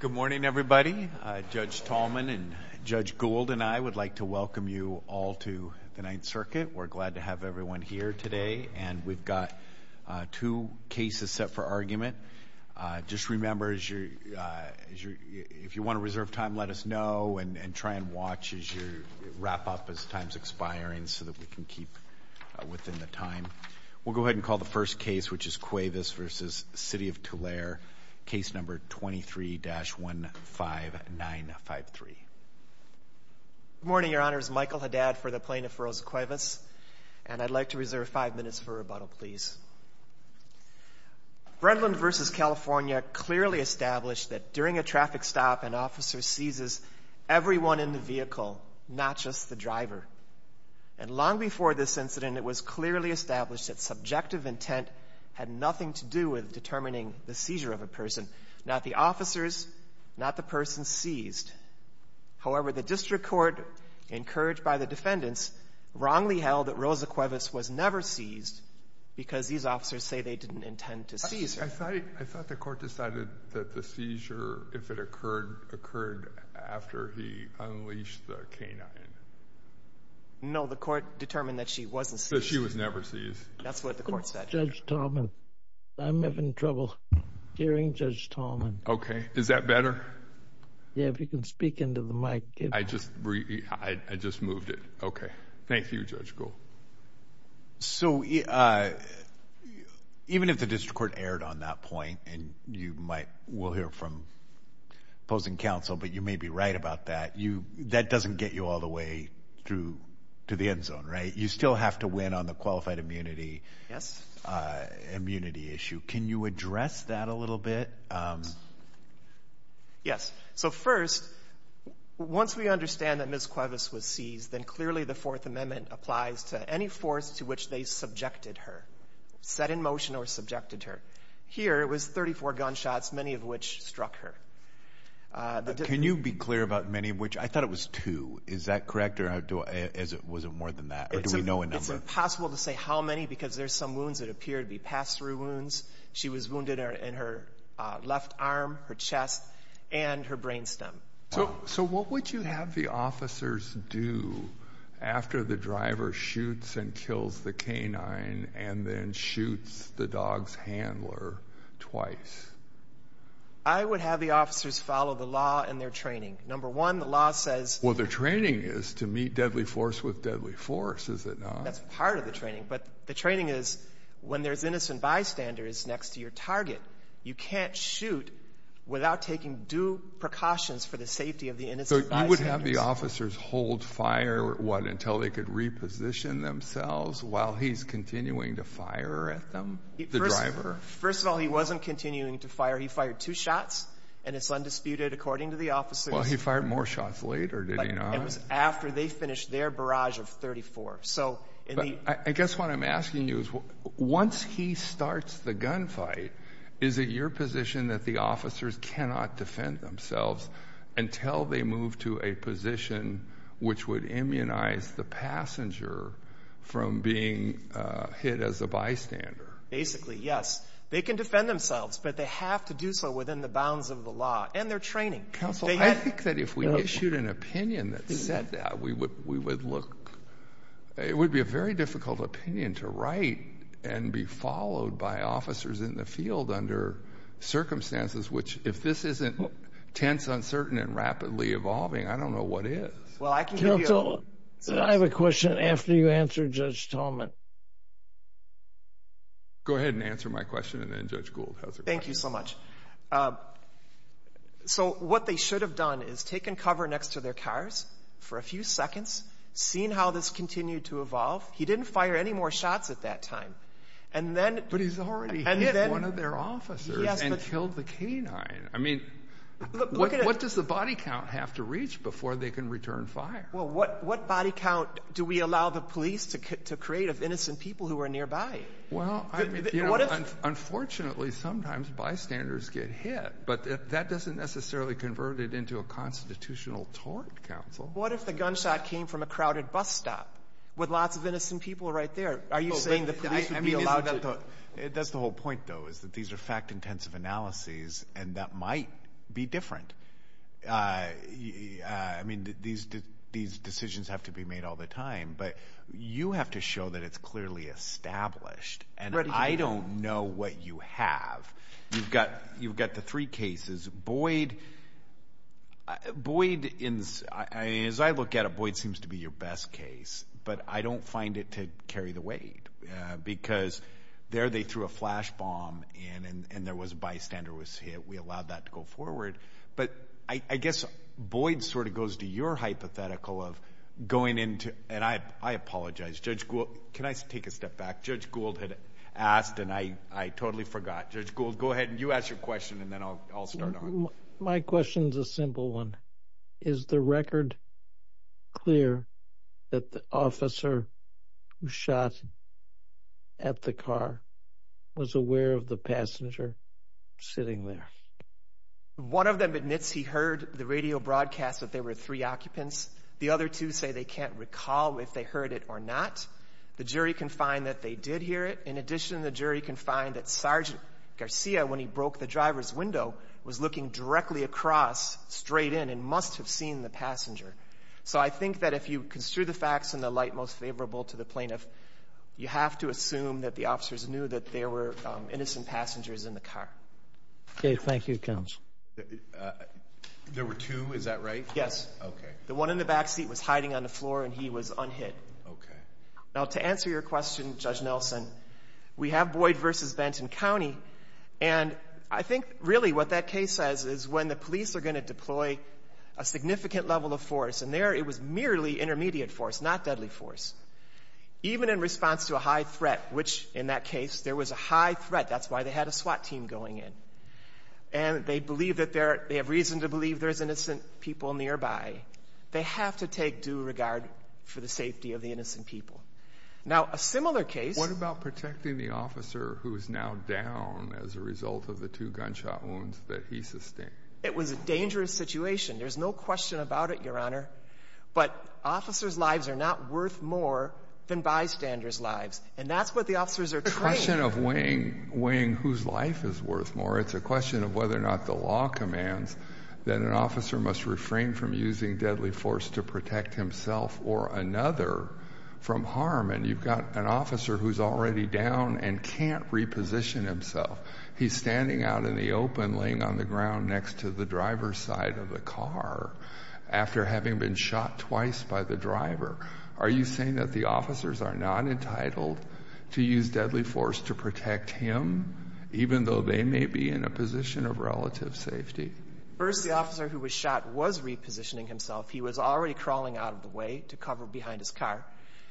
Good morning, everybody. Judge Tallman and Judge Gould and I would like to welcome you all to the Ninth Circuit. We're glad to have everyone here today, and we've got two cases set for argument. Just remember, if you want to reserve time, let us know and try and watch as you wrap up as time's expiring so that we can keep within the time. We'll go ahead and call the first case, which is Cuevas v. City of Tulare, case number 23-15953. Good morning, Your Honors. Michael Haddad for the Plaintiff, Rose Cuevas, and I'd like to reserve five minutes for rebuttal, please. Brentland v. California clearly established that during a traffic stop, an officer seizes everyone in the vehicle, not just the driver. And long before this incident, it was clearly established that subjective intent had nothing to do with determining the seizure of a person. Not the officers, not the person seized. However, the district court, encouraged by the defendants, wrongly held that Rose Cuevas was never seized because these officers say they didn't intend to seize her. I thought the court decided that the seizure, if it occurred, occurred after he unleashed the canine. No, the court determined that she wasn't seized. So she was never seized. That's what the court said. Judge Tallman, I'm having trouble hearing Judge Tallman. Okay. Is that better? Yeah, if you can speak into the mic. I just moved it. Okay. Thank you, Judge Gould. So, even if the district court erred on that point, and you might, we'll hear from opposing counsel, but you may be right about that, that doesn't get you all the way through to the end zone, right? You still have to win on the qualified immunity issue. Yes. Can you address that a little bit? Yes. So first, once we understand that Ms. Cuevas was seized, then clearly the Fourth Amendment applies to any force to which they subjected her, set in motion or subjected her. Here, it was 34 gunshots, many of which struck her. Can you be clear about many of which? I thought it was two. Is that correct? Or was it more than that? Or do we know a number? It's impossible to say how many because there's some wounds that appear to be pass-through wounds. She was wounded in her left arm, her chest, and her brain stem. So what would you have the officers do after the driver shoots and kills the canine and then shoots the dog's handler twice? I would have the officers follow the law and their training. Number one, the law says... Well, their training is to meet deadly force with deadly force, is it not? That's part of the training, but the training is when there's innocent bystanders next to your target, you can't shoot without taking due precautions for the safety of the innocent bystanders. So you would have the officers hold fire, what, until they could reposition themselves while he's continuing to fire at them, the driver? First of all, he wasn't continuing to fire. He fired two shots, and it's undisputed according to the officers. Well, he fired more shots later, did he not? It was after they finished their barrage of 34. I guess what I'm asking you is, once he starts the gunfight, is it your position that the officers cannot defend themselves until they move to a position which would immunize the passenger from being hit as a bystander? Basically, yes. They can defend themselves, but they have to do so within the bounds of the law and their training. Counsel, I think that if we issued an opinion that said that, we would look... It would be a very difficult opinion to write and be followed by officers in the field under circumstances which, if this isn't tense, uncertain, and rapidly evolving, I don't know what is. Counsel, I have a question after you answer Judge Tolman. Go ahead and answer my question, and then Judge Gould has her question. Thank you so much. So what they should have done is taken cover next to their cars for a few seconds, seen how this continued to evolve. He didn't fire any more shots at that time. But he's already hit one of their officers and killed the canine. I mean, what does the body count have to reach before they can return fire? Well, what body count do we allow the police to create of innocent people who are nearby? Well, unfortunately, sometimes bystanders get hit, but that doesn't necessarily convert it into a constitutional tort, counsel. What if the gunshot came from a crowded bus stop with lots of innocent people right there? Are you saying the police would be allowed to... That's the whole point, though, is that these are fact-intensive analyses, and that might be different. I mean, these decisions have to be made all the time, but you have to show that it's clearly established, and I don't know what you have. You've got the three cases. Boyd, as I look at it, Boyd seems to be your best case, but I don't find it to carry the weight, because there they threw a flash bomb, and there was a bystander was hit. We allowed that to go forward, but I guess Boyd sort of goes to your hypothetical of going into, and I apologize, Judge Gould, can I take a step back? Judge Gould had asked, and I totally forgot. Judge Gould, go ahead, and you ask your question, and then I'll start on. My question's a simple one. Is the record clear that the officer who shot at the car was aware of the passenger sitting there? One of them admits he heard the radio broadcast that there were three occupants. The other two say they can't recall if they heard it or not. The jury can find that they did hear it. In addition, the jury can find that Sergeant Garcia, when he broke the driver's window, was looking directly across, straight in, and must have seen the passenger. So I think that if you construe the facts in the light most favorable to the plaintiff, you have to assume that the officers knew that there were innocent passengers in the car. Okay, thank you, Counsel. There were two, is that right? Yes. Okay. The one in the back seat was hiding on the floor, and he was unhit. Okay. Now, to answer your question, Judge Nelson, we have Boyd versus Benton County, and I think, really, what that case says is when the police are going to deploy a significant level of force, and there it was merely intermediate force, not deadly force, even in response to a high threat, which, in that case, there was a high threat, that's why they had a SWAT team going in, and they have reason to believe there's innocent people nearby, they have to take due regard for the safety of the innocent people. Now, a similar case... ...as a result of the two gunshot wounds that he sustained. It was a dangerous situation. There's no question about it, Your Honor, but officers' lives are not worth more than bystanders' lives, and that's what the officers are trained... It's not a question of weighing whose life is worth more. It's a question of whether or not the law commands that an officer must refrain from using deadly force to protect himself or another from harm, and you've got an officer who's already down and can't reposition himself. He's standing out in the open, laying on the ground next to the driver's side of the car, after having been shot twice by the driver. Are you saying that the officers are not entitled to use deadly force to protect him, even though they may be in a position of relative safety? First, the officer who was shot was repositioning himself. He was already crawling out of the way to cover behind his car.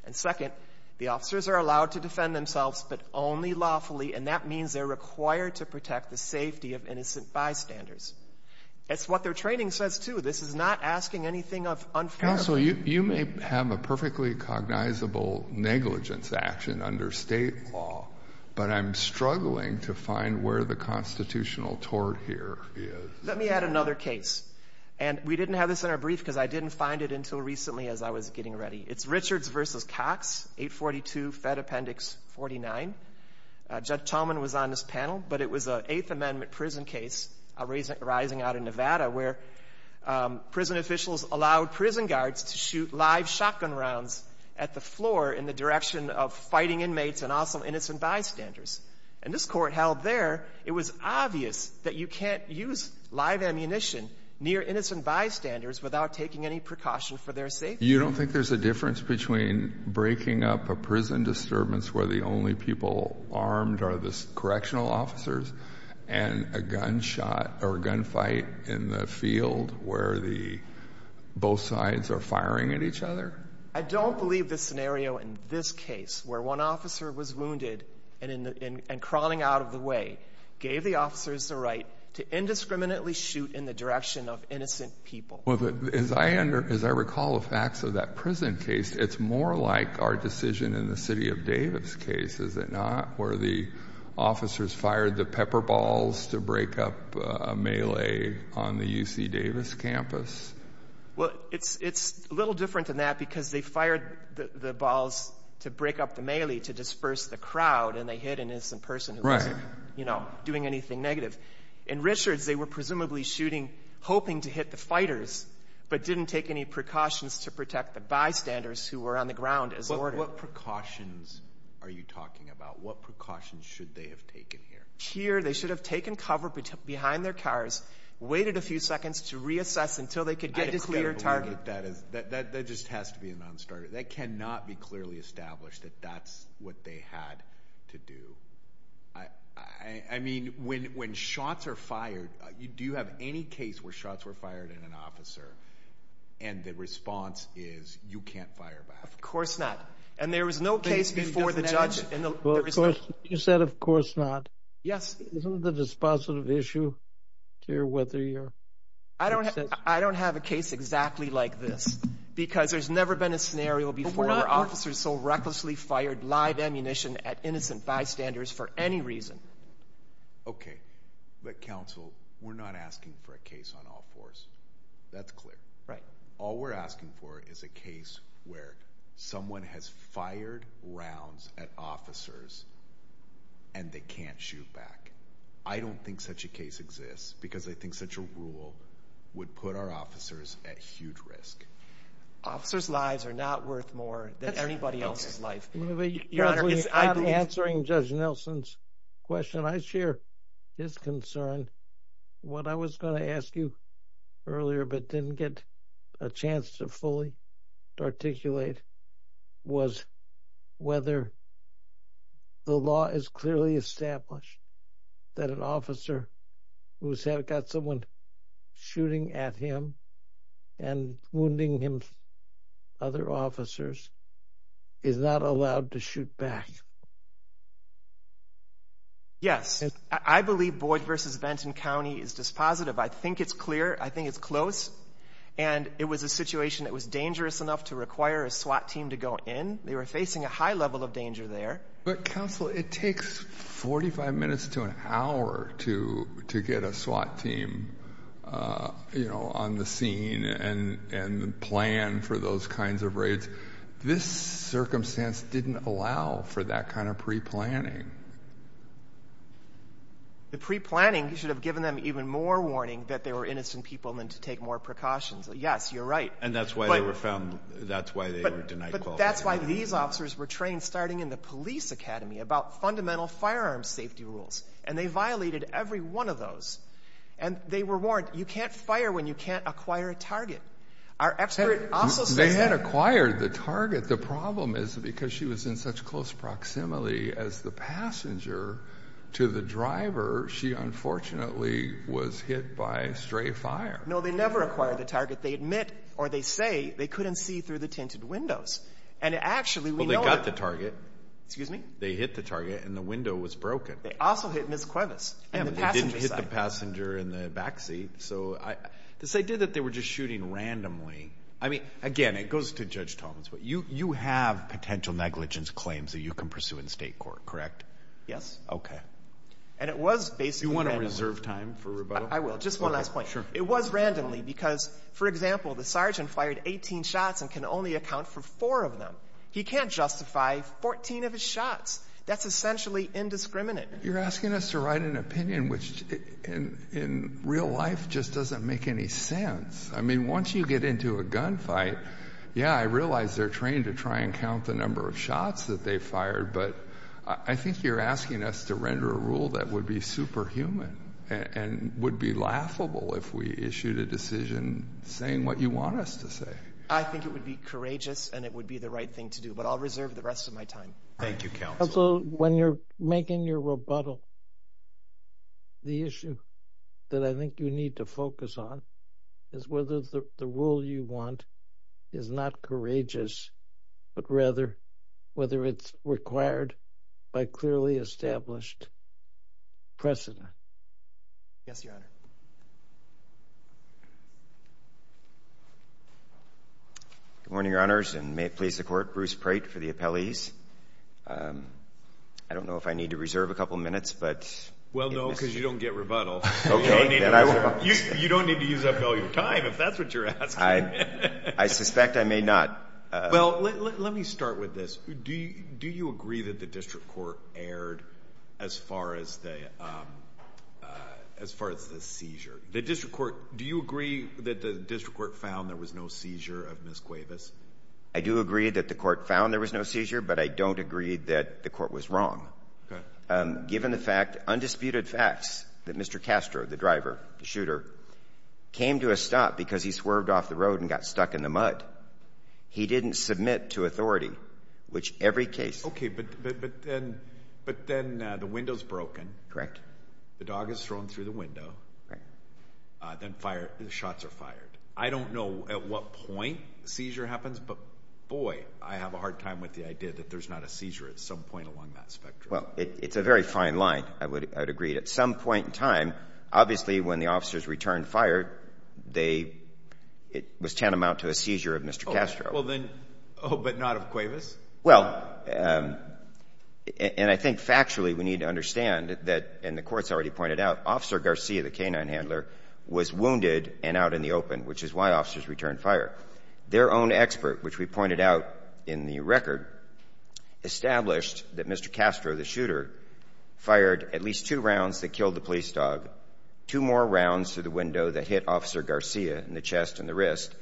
And second, the officers are allowed to defend themselves, but only lawfully, and that means they're required to protect the safety of innocent bystanders. That's what their training says, too. This is not asking anything of unfair... Counsel, you may have a perfectly cognizable negligence action under state law, but I'm struggling to find where the constitutional tort here is. Let me add another case, and we didn't have this in our brief because I didn't find it until recently as I was getting ready. It's Richards v. Cox, 842 Fed Appendix 49. Judge Chalman was on this panel, but it was an Eighth Amendment prison case arising out of Nevada where prison officials allowed prison guards to shoot live shotgun rounds at the floor in the direction of fighting inmates and also innocent bystanders. And this court held there, it was obvious that you can't use live ammunition near innocent bystanders without taking any precaution for their safety. You don't think there's a difference between breaking up a prison disturbance where the only people armed are the correctional officers and a gunshot or gunfight in the field where both sides are firing at each other? I don't believe this scenario in this case, where one officer was wounded and crawling out of the way, gave the officers the right to indiscriminately shoot in the direction of innocent people. As I recall the facts of that prison case, it's more like our decision in the city of Davis case, is it not? Where the officers fired the pepper balls to break up a melee on the UC Davis campus? Well, it's a little different than that because they fired the balls to break up the melee to disperse the crowd and they hit an innocent person who wasn't doing anything negative. In Richards, they were presumably shooting, hoping to hit the fighters but didn't take any precautions to protect the bystanders who were on the ground as ordered. What precautions are you talking about? What precautions should they have taken here? Here, they should have taken cover behind their cars, waited a few seconds to reassess until they could get a clear target. That just has to be a non-starter. That cannot be clearly established that that's what they had to do. I mean, when shots are fired, do you have any case where shots were fired at an officer and the response is, you can't fire back? Of course not. And there was no case before the judge... You said, of course not. Yes. Isn't it a dispositive issue to hear whether you're... I don't have a case exactly like this because there's never been a scenario before where officers so recklessly fired live ammunition at innocent bystanders for any reason. Okay, but counsel, we're not asking for a case on all fours. That's clear. Right. All we're asking for is a case where someone has fired rounds at officers and they can't shoot back. I don't think such a case exists because I think such a rule would put our officers at huge risk. Officers' lives are not worth more than anybody else's life. You're not answering Judge Nelson's question. I share his concern. What I was going to ask you earlier but didn't get a chance to fully articulate was whether the law is clearly established that an officer who's got someone shooting at him and wounding him, other officers, is not allowed to shoot back. Yes. I believe Boyd v. Benton County is dispositive. I think it's clear. I think it's close. And it was a situation that was dangerous enough to require a SWAT team to go in. They were facing a high level of danger there. But counsel, it takes 45 minutes to an hour to get a SWAT team on the scene and plan for those kinds of raids. This circumstance didn't allow for that kind of pre-planning. The pre-planning should have given them even more warning that they were innocent people and then to take more precautions. Yes, you're right. And that's why they were found, that's why they were denied qualification. But that's why these officers were trained starting in the police academy about fundamental firearm safety rules. And they violated every one of those. And they were warned, you can't fire when you can't acquire a target. Our expert also says that... They had acquired the target. The problem is because she was in such close proximity as the passenger to the driver, she unfortunately was hit by stray fire. No, they never acquired the target. They admit or they say they couldn't see through the tinted windows. And actually we know... Well, they got the target. Excuse me? They hit the target and the window was broken. They also hit Ms. Cuevas. And they didn't hit the passenger in the backseat. So this idea that they were just shooting randomly... I mean, again, it goes to Judge Thomas, but you have potential negligence claims that you can pursue in state court, correct? Yes. Okay. And it was basically randomly. Do you want to reserve time for rebuttal? I will. Just one last point. It was randomly because, for example, the sergeant fired 18 shots and can only account for four of them. He can't justify 14 of his shots. That's essentially indiscriminate. You're asking us to write an opinion which in real life just doesn't make any sense. I mean, once you get into a gunfight, yeah, I realize they're trained to try and count the number of shots that they fired, but I think you're asking us to render a rule that would be superhuman and would be laughable if we issued a decision saying what you want us to say. I think it would be courageous and it would be the right thing to do, but I'll reserve the rest of my time. Thank you, Counsel. Counsel, when you're making your rebuttal, the issue that I think you need to focus on is whether the rule you want is not courageous, but rather whether it's required by clearly established precedent. Yes, Your Honor. Good morning, Your Honors, and may it please the Court, I'm Mr. Bruce Prate for the appellees. I don't know if I need to reserve a couple minutes, but... Well, no, because you don't get rebuttal. You don't need to use up all your time if that's what you're asking. I suspect I may not. Well, let me start with this. Do you agree that the District Court erred as far as the seizure? Do you agree that the District Court found there was no seizure of Ms. Cuevas? I do agree that the Court found there was no seizure, but I don't agree that the Court was wrong. Given the fact, undisputed facts, that Mr. Castro, the driver, the shooter, came to a stop because he swerved off the road and got stuck in the mud, he didn't submit to authority, which every case... Okay, but then the window's broken. Correct. The dog is thrown through the window. Right. Then shots are fired. I don't know at what point the seizure happens, but boy, I have a hard time with the idea that there's not a seizure at some point along that spectrum. Well, it's a very fine line, I would agree. At some point in time, obviously when the officers returned fire, it was tantamount to a seizure of Mr. Castro. Oh, but not of Cuevas? Well, and I think factually we need to understand that, Officer Garcia, the canine handler, was wounded and out in the open, which is why officers returned fire. Their own expert, which we pointed out in the record, established that Mr. Castro, the shooter, fired at least two rounds that killed the police dog, two more rounds through the window that hit Officer Garcia in the chest and the wrist.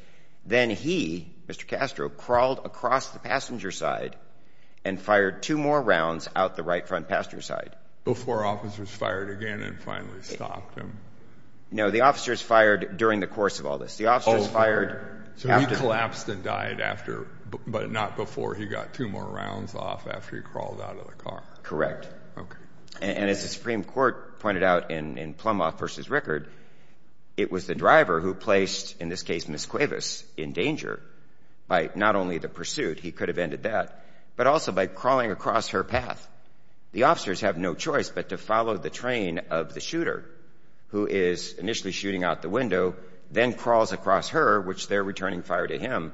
Then he, Mr. Castro, crawled across the passenger side and fired two more rounds out the right front passenger side. Before officers fired again and finally stopped him? No, the officers fired during the course of all this. The officers fired... So he collapsed and died after, but not before. He got two more rounds off after he crawled out of the car. Correct. And as the Supreme Court pointed out in Plumoff v. Rickard, it was the driver who placed, in this case, Ms. Cuevas in danger by not only the pursuit, he could have ended that, but also by crawling across her path. The officers have no choice but to follow the train of the shooter who is initially shooting out the window then crawls across her, which they're returning fire to him,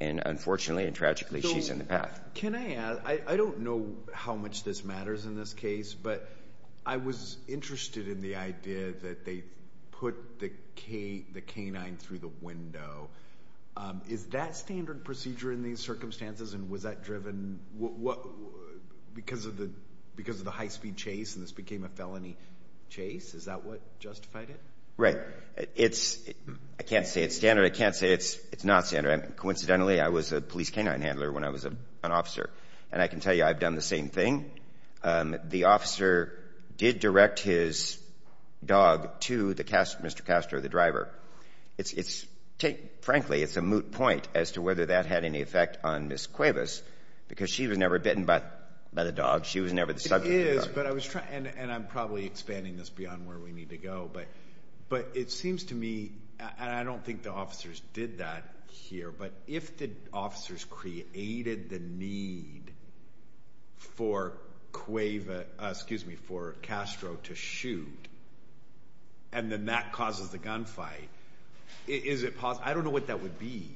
and unfortunately and tragically, she's in the path. Can I add? I don't know how much this matters in this case, but I was interested in the idea that they put the canine through the window. Is that standard procedure in these circumstances and was that driven because of the high-speed chase and this became a felony chase? Is that what justified it? Right. I can't say it's standard. I can't say it's not standard. Coincidentally, I was a police canine handler when I was an officer, and I can tell you I've done the same thing. The officer did direct his dog to Mr. Castro, the driver. Frankly, it's a moot point as to whether that had any effect on Ms. Cuevas because she was never bitten by the dog. She was never the subject of the dog. I'm probably expanding this beyond where we need to go, but it seems to me, and I don't think the officers did that here, but if the officers created the need for Castro to shoot and then that causes the gunfight, is it possible? I don't know what that would be.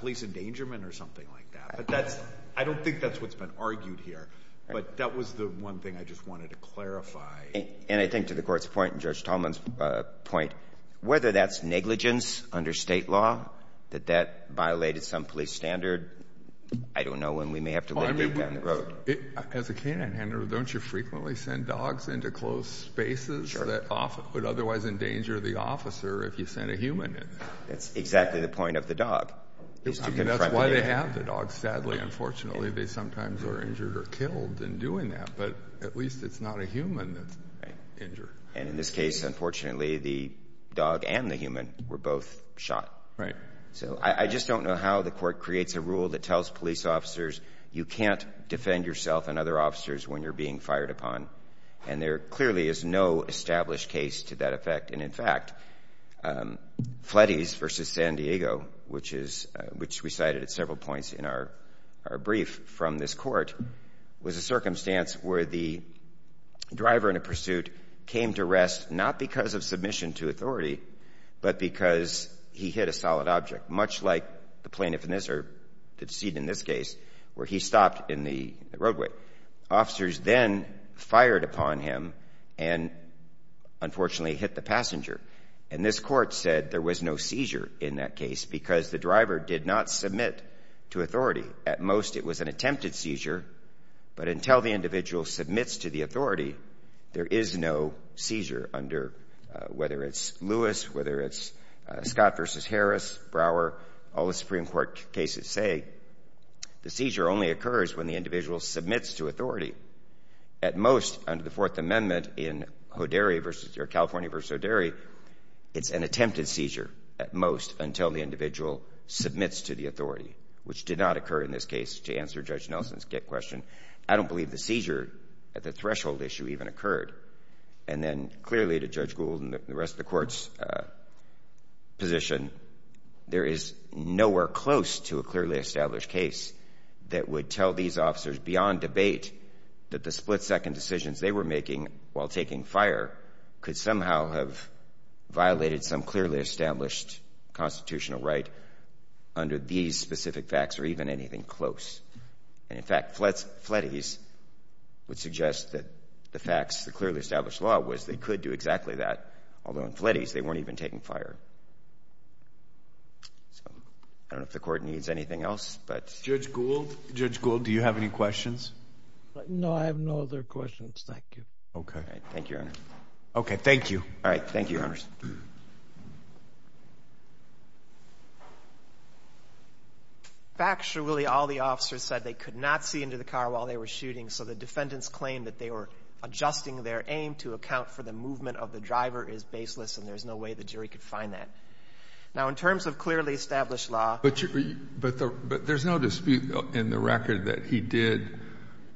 Police endangerment or something like that. I don't think that's what's been argued here, but that was the one thing I just wanted to clarify. And I think to the Court's point and Judge Tallman's point, whether that's negligence under State law, that that violated some police standard, I don't know, and we may have to look deep down the road. As a canine handler, don't you frequently send dogs into closed spaces that would otherwise endanger the officer if you sent a human in? That's exactly the point of the dog. That's why they have the dog. Sadly, unfortunately, they sometimes are injured or killed in doing that, but at least it's not a human that's injured. And in this case, unfortunately, the dog and the human were both shot. Right. So I just don't know how the Court creates a rule that tells police officers you can't defend yourself and other officers when you're being fired upon. And there clearly is no established case to that effect. And in fact, Flettys versus San Diego, which we cited at several points in our brief from this Court, was a circumstance where the driver in a pursuit came to rest not because of submission to authority, but because he hit a solid object, much like the plaintiff in this or the decedent in this case where he stopped in the roadway. Officers then fired upon him and, unfortunately, hit the passenger. And this Court said there was no seizure in that case because the driver did not submit to authority. At most, it was an attempted seizure, but until the individual submits to the authority, there is no seizure under, whether it's Lewis, whether it's Scott versus Harris, Brower, all the Supreme Court cases say the seizure only occurs when the individual submits to authority. At most, under the Fourth Amendment in Hoderi versus or California versus Hoderi, it's an attempted seizure at most until the individual submits to the authority, which did not occur in this case to answer Judge Nelson's question. I don't believe the seizure at the threshold issue even occurred. And then, clearly to Judge Gould and the rest of the Court's position, there is nowhere close to a clearly established case that would tell these officers beyond debate that the split-second decisions they were making while taking fire could somehow have violated some clearly established constitutional right under these specific facts or even anything close. And in fact, Fletties would suggest that the facts, the clearly established law was they could do exactly that, although in Fletties they weren't even taking fire. So, I don't know if the Court needs anything else, but Judge Gould, Judge Gould, do you have any questions? No, I have no other questions. Thank you. Okay. Thank you, Your Honor. Okay, thank you. All right. Thank you. Factually, all the officers said they could not see into the car while they were shooting, so the defendants claimed that they were adjusting their aim to account for the movement of the driver is baseless and there's no way the jury could find that. Now, in terms of clearly established law... But, there's no dispute in the record that he did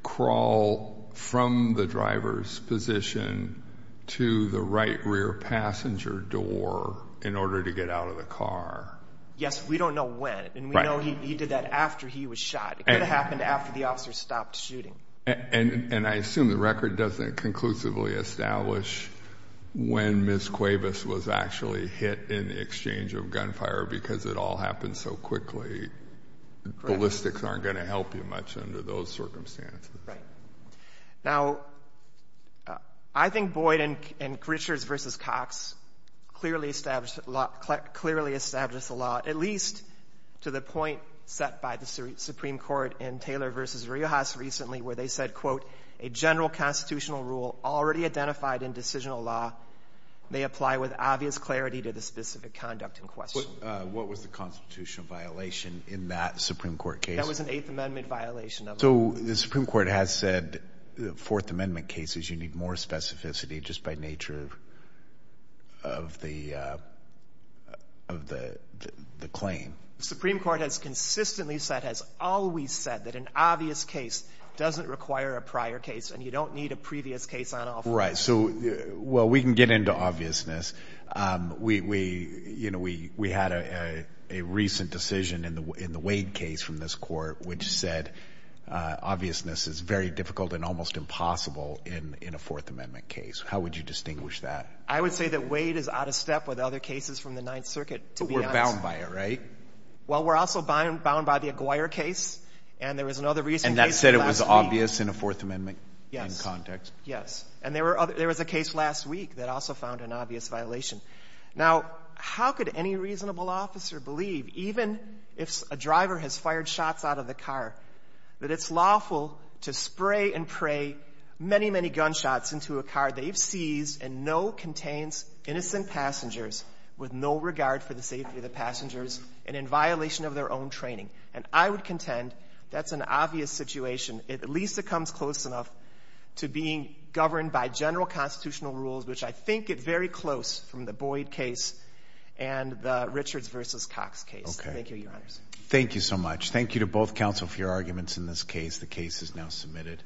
crawl from the driver's position to the right rear passenger door in order to get out of the car. Yes, we don't know when and we know he did that after he was shot. It could have happened after the officers stopped shooting. And I assume the record doesn't conclusively establish when Ms. Cuevas was actually hit in the exchange of gunfire because it all happened so quickly. Ballistics aren't going to help you much under those circumstances. Right. Now, I think Boyd and Richards versus Cox clearly established the law... clearly established the law at least to the point set by the Supreme Court in Taylor versus Riojas recently where they said, quote, a general constitutional rule already identified in decisional law may apply with obvious clarity to the specific conduct in question. What was the constitutional violation in that Supreme Court case? That was an Eighth Amendment violation. So, the Supreme Court has said Fourth Amendment cases, you need more specificity just by nature of the claim. The Supreme Court has consistently said, has always said that an obvious case doesn't require a prior case and you don't need a previous case on offer. Right. So, well, we can get into obviousness. We had a recent decision in the Wade case from this court which said obviousness is very difficult and almost impossible in a Fourth Amendment case. How would you distinguish that? I would say that Wade is out of step with other cases from the Ninth Circuit. But we're bound by it, right? Well, we're also bound by the Aguirre case and there was another recent case. And that said it was obvious in a Fourth Amendment context? Yes. Yes. And there was a case last week that also found an obvious violation. Now, how could any reasonable officer believe even if a driver has fired shots out of the car that it's lawful to spray and pray many, many gunshots into a car they've seized and know contains innocent passengers with no regard for the safety of the passengers and in violation of their own training? And I would contend that's an obvious situation. At least it comes close enough to being governed by general constitutional rules, which I think get very close from the Boyd case and the Richards vs. Cox case. Thank you, Your Honors. Thank you so much. Thank you to both Council for your arguments in this case. The case is now submitted.